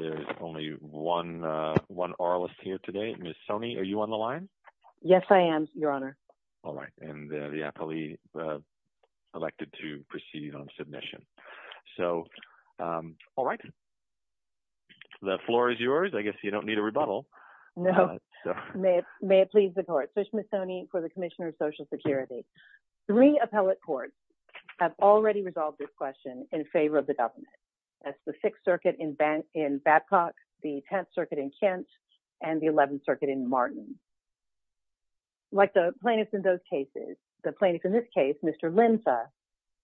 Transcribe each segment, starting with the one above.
There is only one oralist here today. Ms. Soni, are you on the line? Yes, I am, Your Honor. All right. And the appellee elected to proceed on submission. So, all right. The floor is yours. I guess you don't need a rebuttal. No. May it please the Court. So, Ms. Soni, for the Commissioner of Social Security, three appellate courts have already resolved this question in favor of the government. That's the Sixth Circuit in Babcock, the Tenth Circuit in Kent, and the Eleventh Circuit in Martin. Like the plaintiffs in those cases, the plaintiff in this case, Mr. Linza,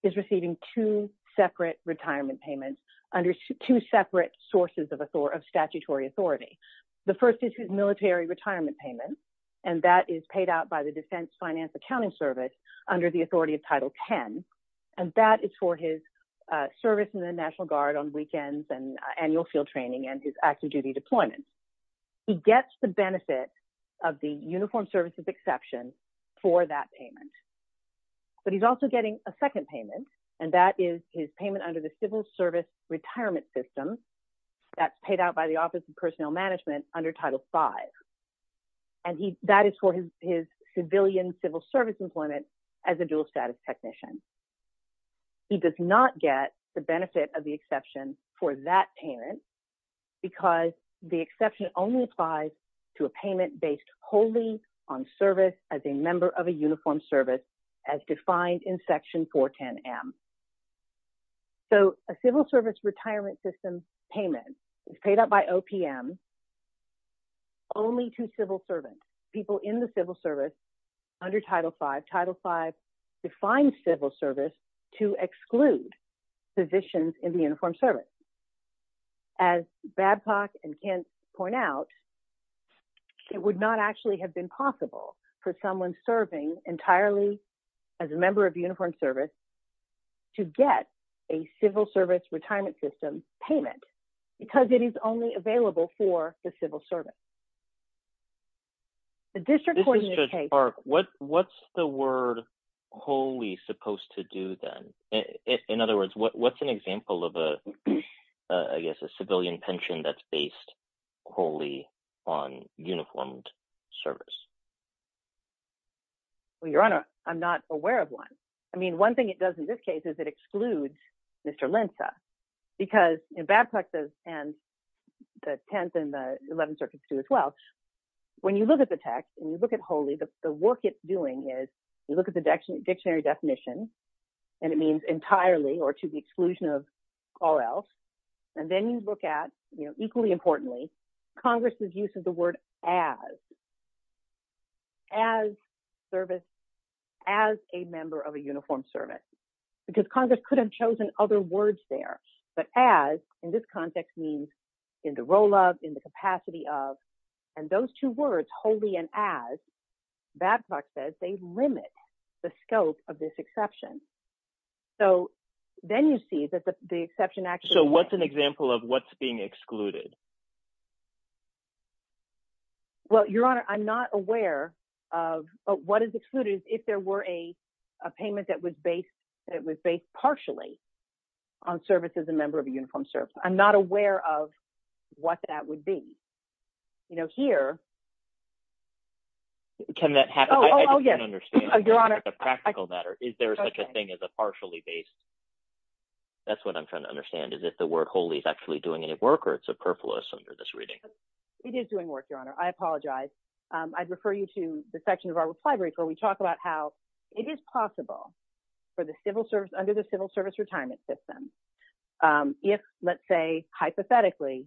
is receiving two separate retirement payments under two separate sources of statutory authority. The first is his military retirement payment, and that is paid out by the Defense Finance Accounting Service under the authority of Title X. And that is for his service in the National Guard on weekends and annual field training and his active duty deployment. He gets the benefit of the Uniformed Services Exception for that payment. But he's also getting a second payment, and that is his payment under the Civil Service Retirement System. That's paid out by the Office of Personnel Management under Title V. And that is for his civilian civil service employment as a dual-status technician. He does not get the benefit of the exception for that payment because the exception only applies to a payment based wholly on service as a member of a uniformed service as defined in Section 410M. So, a Civil Service Retirement System payment is paid out by OPM only to civil servants, people in the civil service under Title V. Title V defines civil service to exclude positions in the uniformed service. As Babcock and Kent point out, it would not actually have been possible for someone serving entirely as a member of a uniformed service to get a Civil Service Retirement System payment because it is only available for the civil service. This is Judge Park. What's the word wholly supposed to do then? In other words, what's an example of a, I guess, a civilian pension that's based wholly on uniformed service? Well, Your Honor, I'm not aware of one. I mean, one thing it does in this case is it excludes Mr. Linsa because in Babcock's and the 10th and the 11th circuits do as well. When you look at the text and you look at wholly, the work it's doing is you look at the dictionary definition and it means entirely or to the exclusion of all else. Then you look at, equally importantly, Congress' use of the word as, as a member of a uniformed service because Congress could have chosen other words there. But as in this context means in the role of, in the capacity of, and those two words wholly and as, Babcock says they limit the scope of this exception. So then you see that the exception actually – So what's an example of what's being excluded? Well, Your Honor, I'm not aware of what is excluded if there were a payment that was based partially on service as a member of a uniformed service. I'm not aware of what that would be. You know, here – Can that happen? Oh, yes. I don't understand the practical matter. Is there such a thing as a partially based? That's what I'm trying to understand. Is it the word wholly is actually doing any work or it's a purpose under this reading? It is doing work, Your Honor. I apologize. I'd refer you to the section of our reply brief where we talk about how it is possible for the civil service, under the civil service retirement system, if, let's say, hypothetically,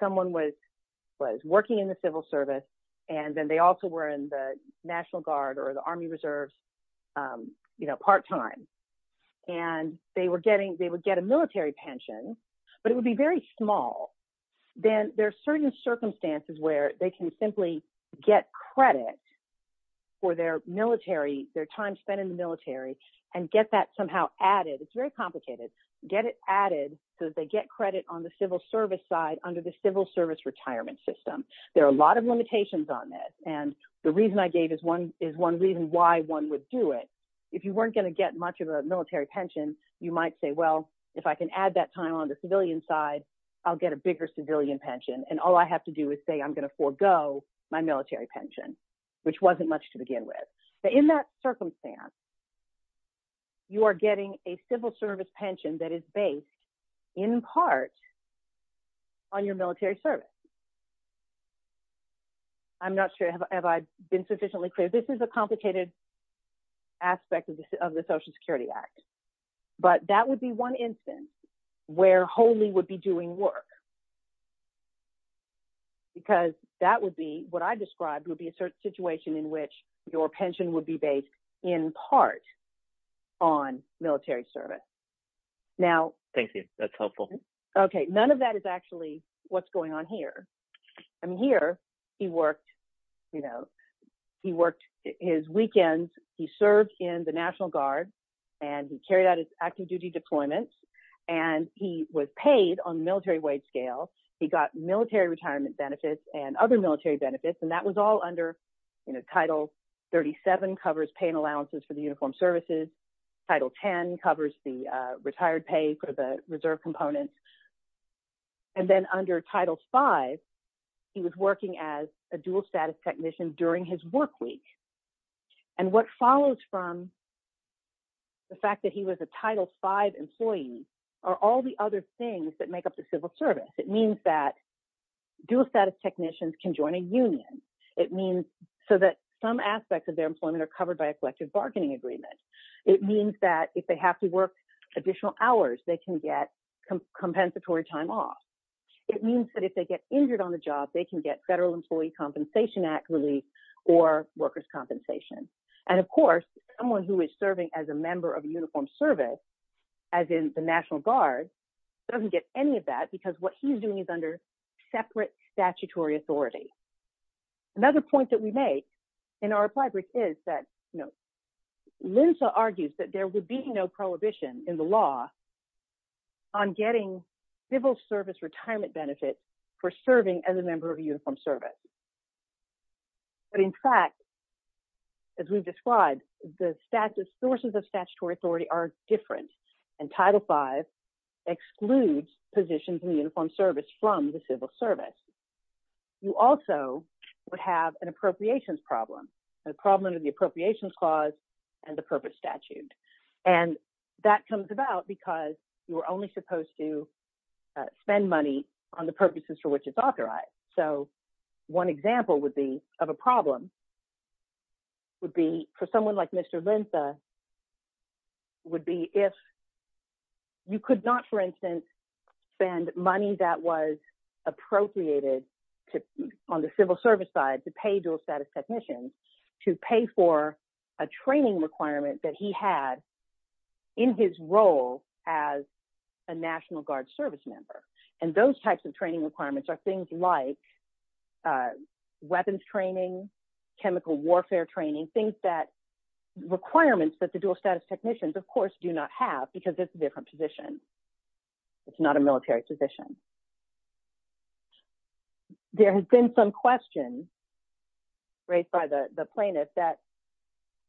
someone was working in the civil service and then they also were in the National Guard or the Army Reserves, you know, part time, and they were getting – they would get a military pension, but it would be very small. Then there are certain circumstances where they can simply get credit for their military – their time spent in the military and get that somehow added. It's very complicated. Get it added so that they get credit on the civil service side under the civil service retirement system. There are a lot of limitations on this, and the reason I gave is one reason why one would do it. If you weren't going to get much of a military pension, you might say, well, if I can add that time on the civilian side, I'll get a bigger civilian pension, and all I have to do is say I'm going to forego my military pension, which wasn't much to begin with. In that circumstance, you are getting a civil service pension that is based in part on your military service. I'm not sure if I've been sufficiently clear. This is a complicated aspect of the Social Security Act, but that would be one instance where wholly would be doing work. Because that would be – what I described would be a certain situation in which your pension would be based in part on military service. Now – Thank you. That's helpful. Okay, none of that is actually what's going on here. Here, he worked his weekends. He served in the National Guard, and he carried out his active-duty deployments, and he was paid on the military wage scale. He got military retirement benefits and other military benefits, and that was all under Title 37, covers paying allowances for the uniformed services. Title 10 covers the retired pay for the reserve components. And then under Title 5, he was working as a dual-status technician during his work week. And what follows from the fact that he was a Title 5 employee are all the other things that make up the civil service. It means that dual-status technicians can join a union. It means so that some aspects of their employment are covered by a collective bargaining agreement. It means that if they have to work additional hours, they can get compensatory time off. It means that if they get injured on the job, they can get Federal Employee Compensation Act relief or workers' compensation. And, of course, someone who is serving as a member of a uniformed service, as in the National Guard, doesn't get any of that because what he's doing is under separate statutory authority. Another point that we make in our reply brief is that, you know, Lyndsa argues that there would be no prohibition in the law on getting civil service retirement benefits for serving as a member of a uniformed service. But, in fact, as we've described, the sources of statutory authority are different, and Title 5 excludes positions in the uniformed service from the civil service. You also would have an appropriations problem, a problem under the Appropriations Clause and the Purpose Statute. And that comes about because you are only supposed to spend money on the purposes for which it's authorized. So one example would be of a problem would be for someone like Mr. Lyndsa would be if you could not, for instance, spend money that was appropriated on the civil service side to pay dual status technicians to pay for a training requirement that he had in his role as a National Guard service member. And those types of training requirements are things like weapons training, chemical warfare training, things that requirements that the dual status technicians, of course, do not have because it's a different position. It's not a military position. There has been some questions raised by the plaintiff that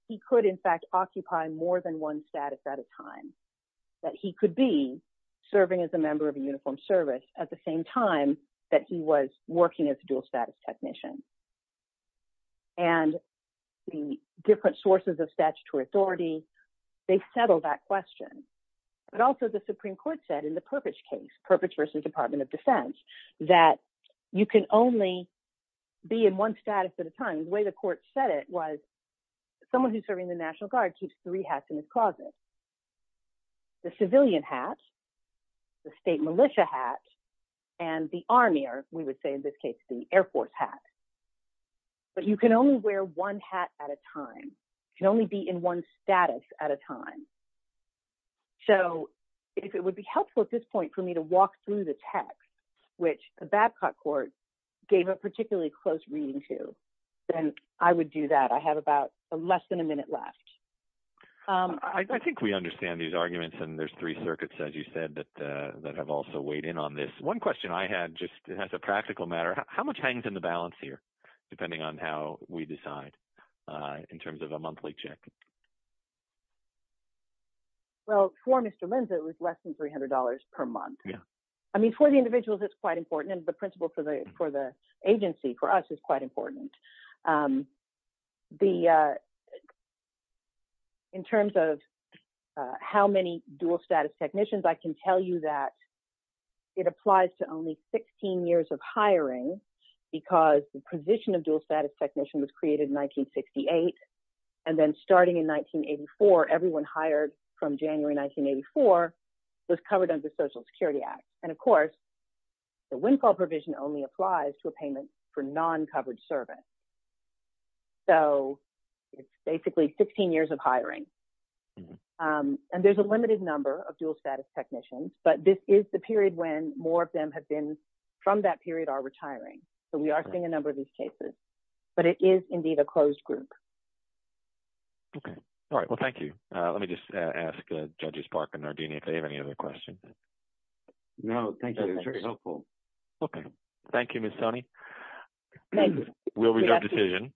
he could, in fact, occupy more than one status at a time, that he could be serving as a member of a uniformed service at the same time that he was working as a dual status technician. And the different sources of statutory authority, they settle that question. But also the Supreme Court said in the Perpich case, Perpich versus Department of Defense, that you can only be in one status at a time. The way the court said it was someone who's serving the National Guard keeps three hats in his closet. The civilian hat, the state militia hat, and the Army, or we would say in this case the Air Force hat. But you can only wear one hat at a time. You can only be in one status at a time. So if it would be helpful at this point for me to walk through the text, which the Babcock court gave a particularly close reading to, then I would do that. I have about less than a minute left. I think we understand these arguments, and there's three circuits, as you said, that have also weighed in on this. One question I had just as a practical matter, how much hangs in the balance here depending on how we decide in terms of a monthly check? Well, for Mr. Linza, it was less than $300 per month. I mean for the individuals, it's quite important, and the principle for the agency, for us, is quite important. In terms of how many dual-status technicians, I can tell you that it applies to only 16 years of hiring because the position of dual-status technician was created in 1968, and then starting in 1984, everyone hired from January 1984 was covered under the Social Security Act. And of course, the windfall provision only applies to a payment for non-covered service. So it's basically 16 years of hiring, and there's a limited number of dual-status technicians, but this is the period when more of them have been from that period are retiring. So we are seeing a number of these cases, but it is indeed a closed group. Okay. All right. Well, thank you. Let me just ask Judges Park and Nardini if they have any other questions. No, thank you. That was very helpful. Okay. Thank you, Ms. Toney. Will we have a decision?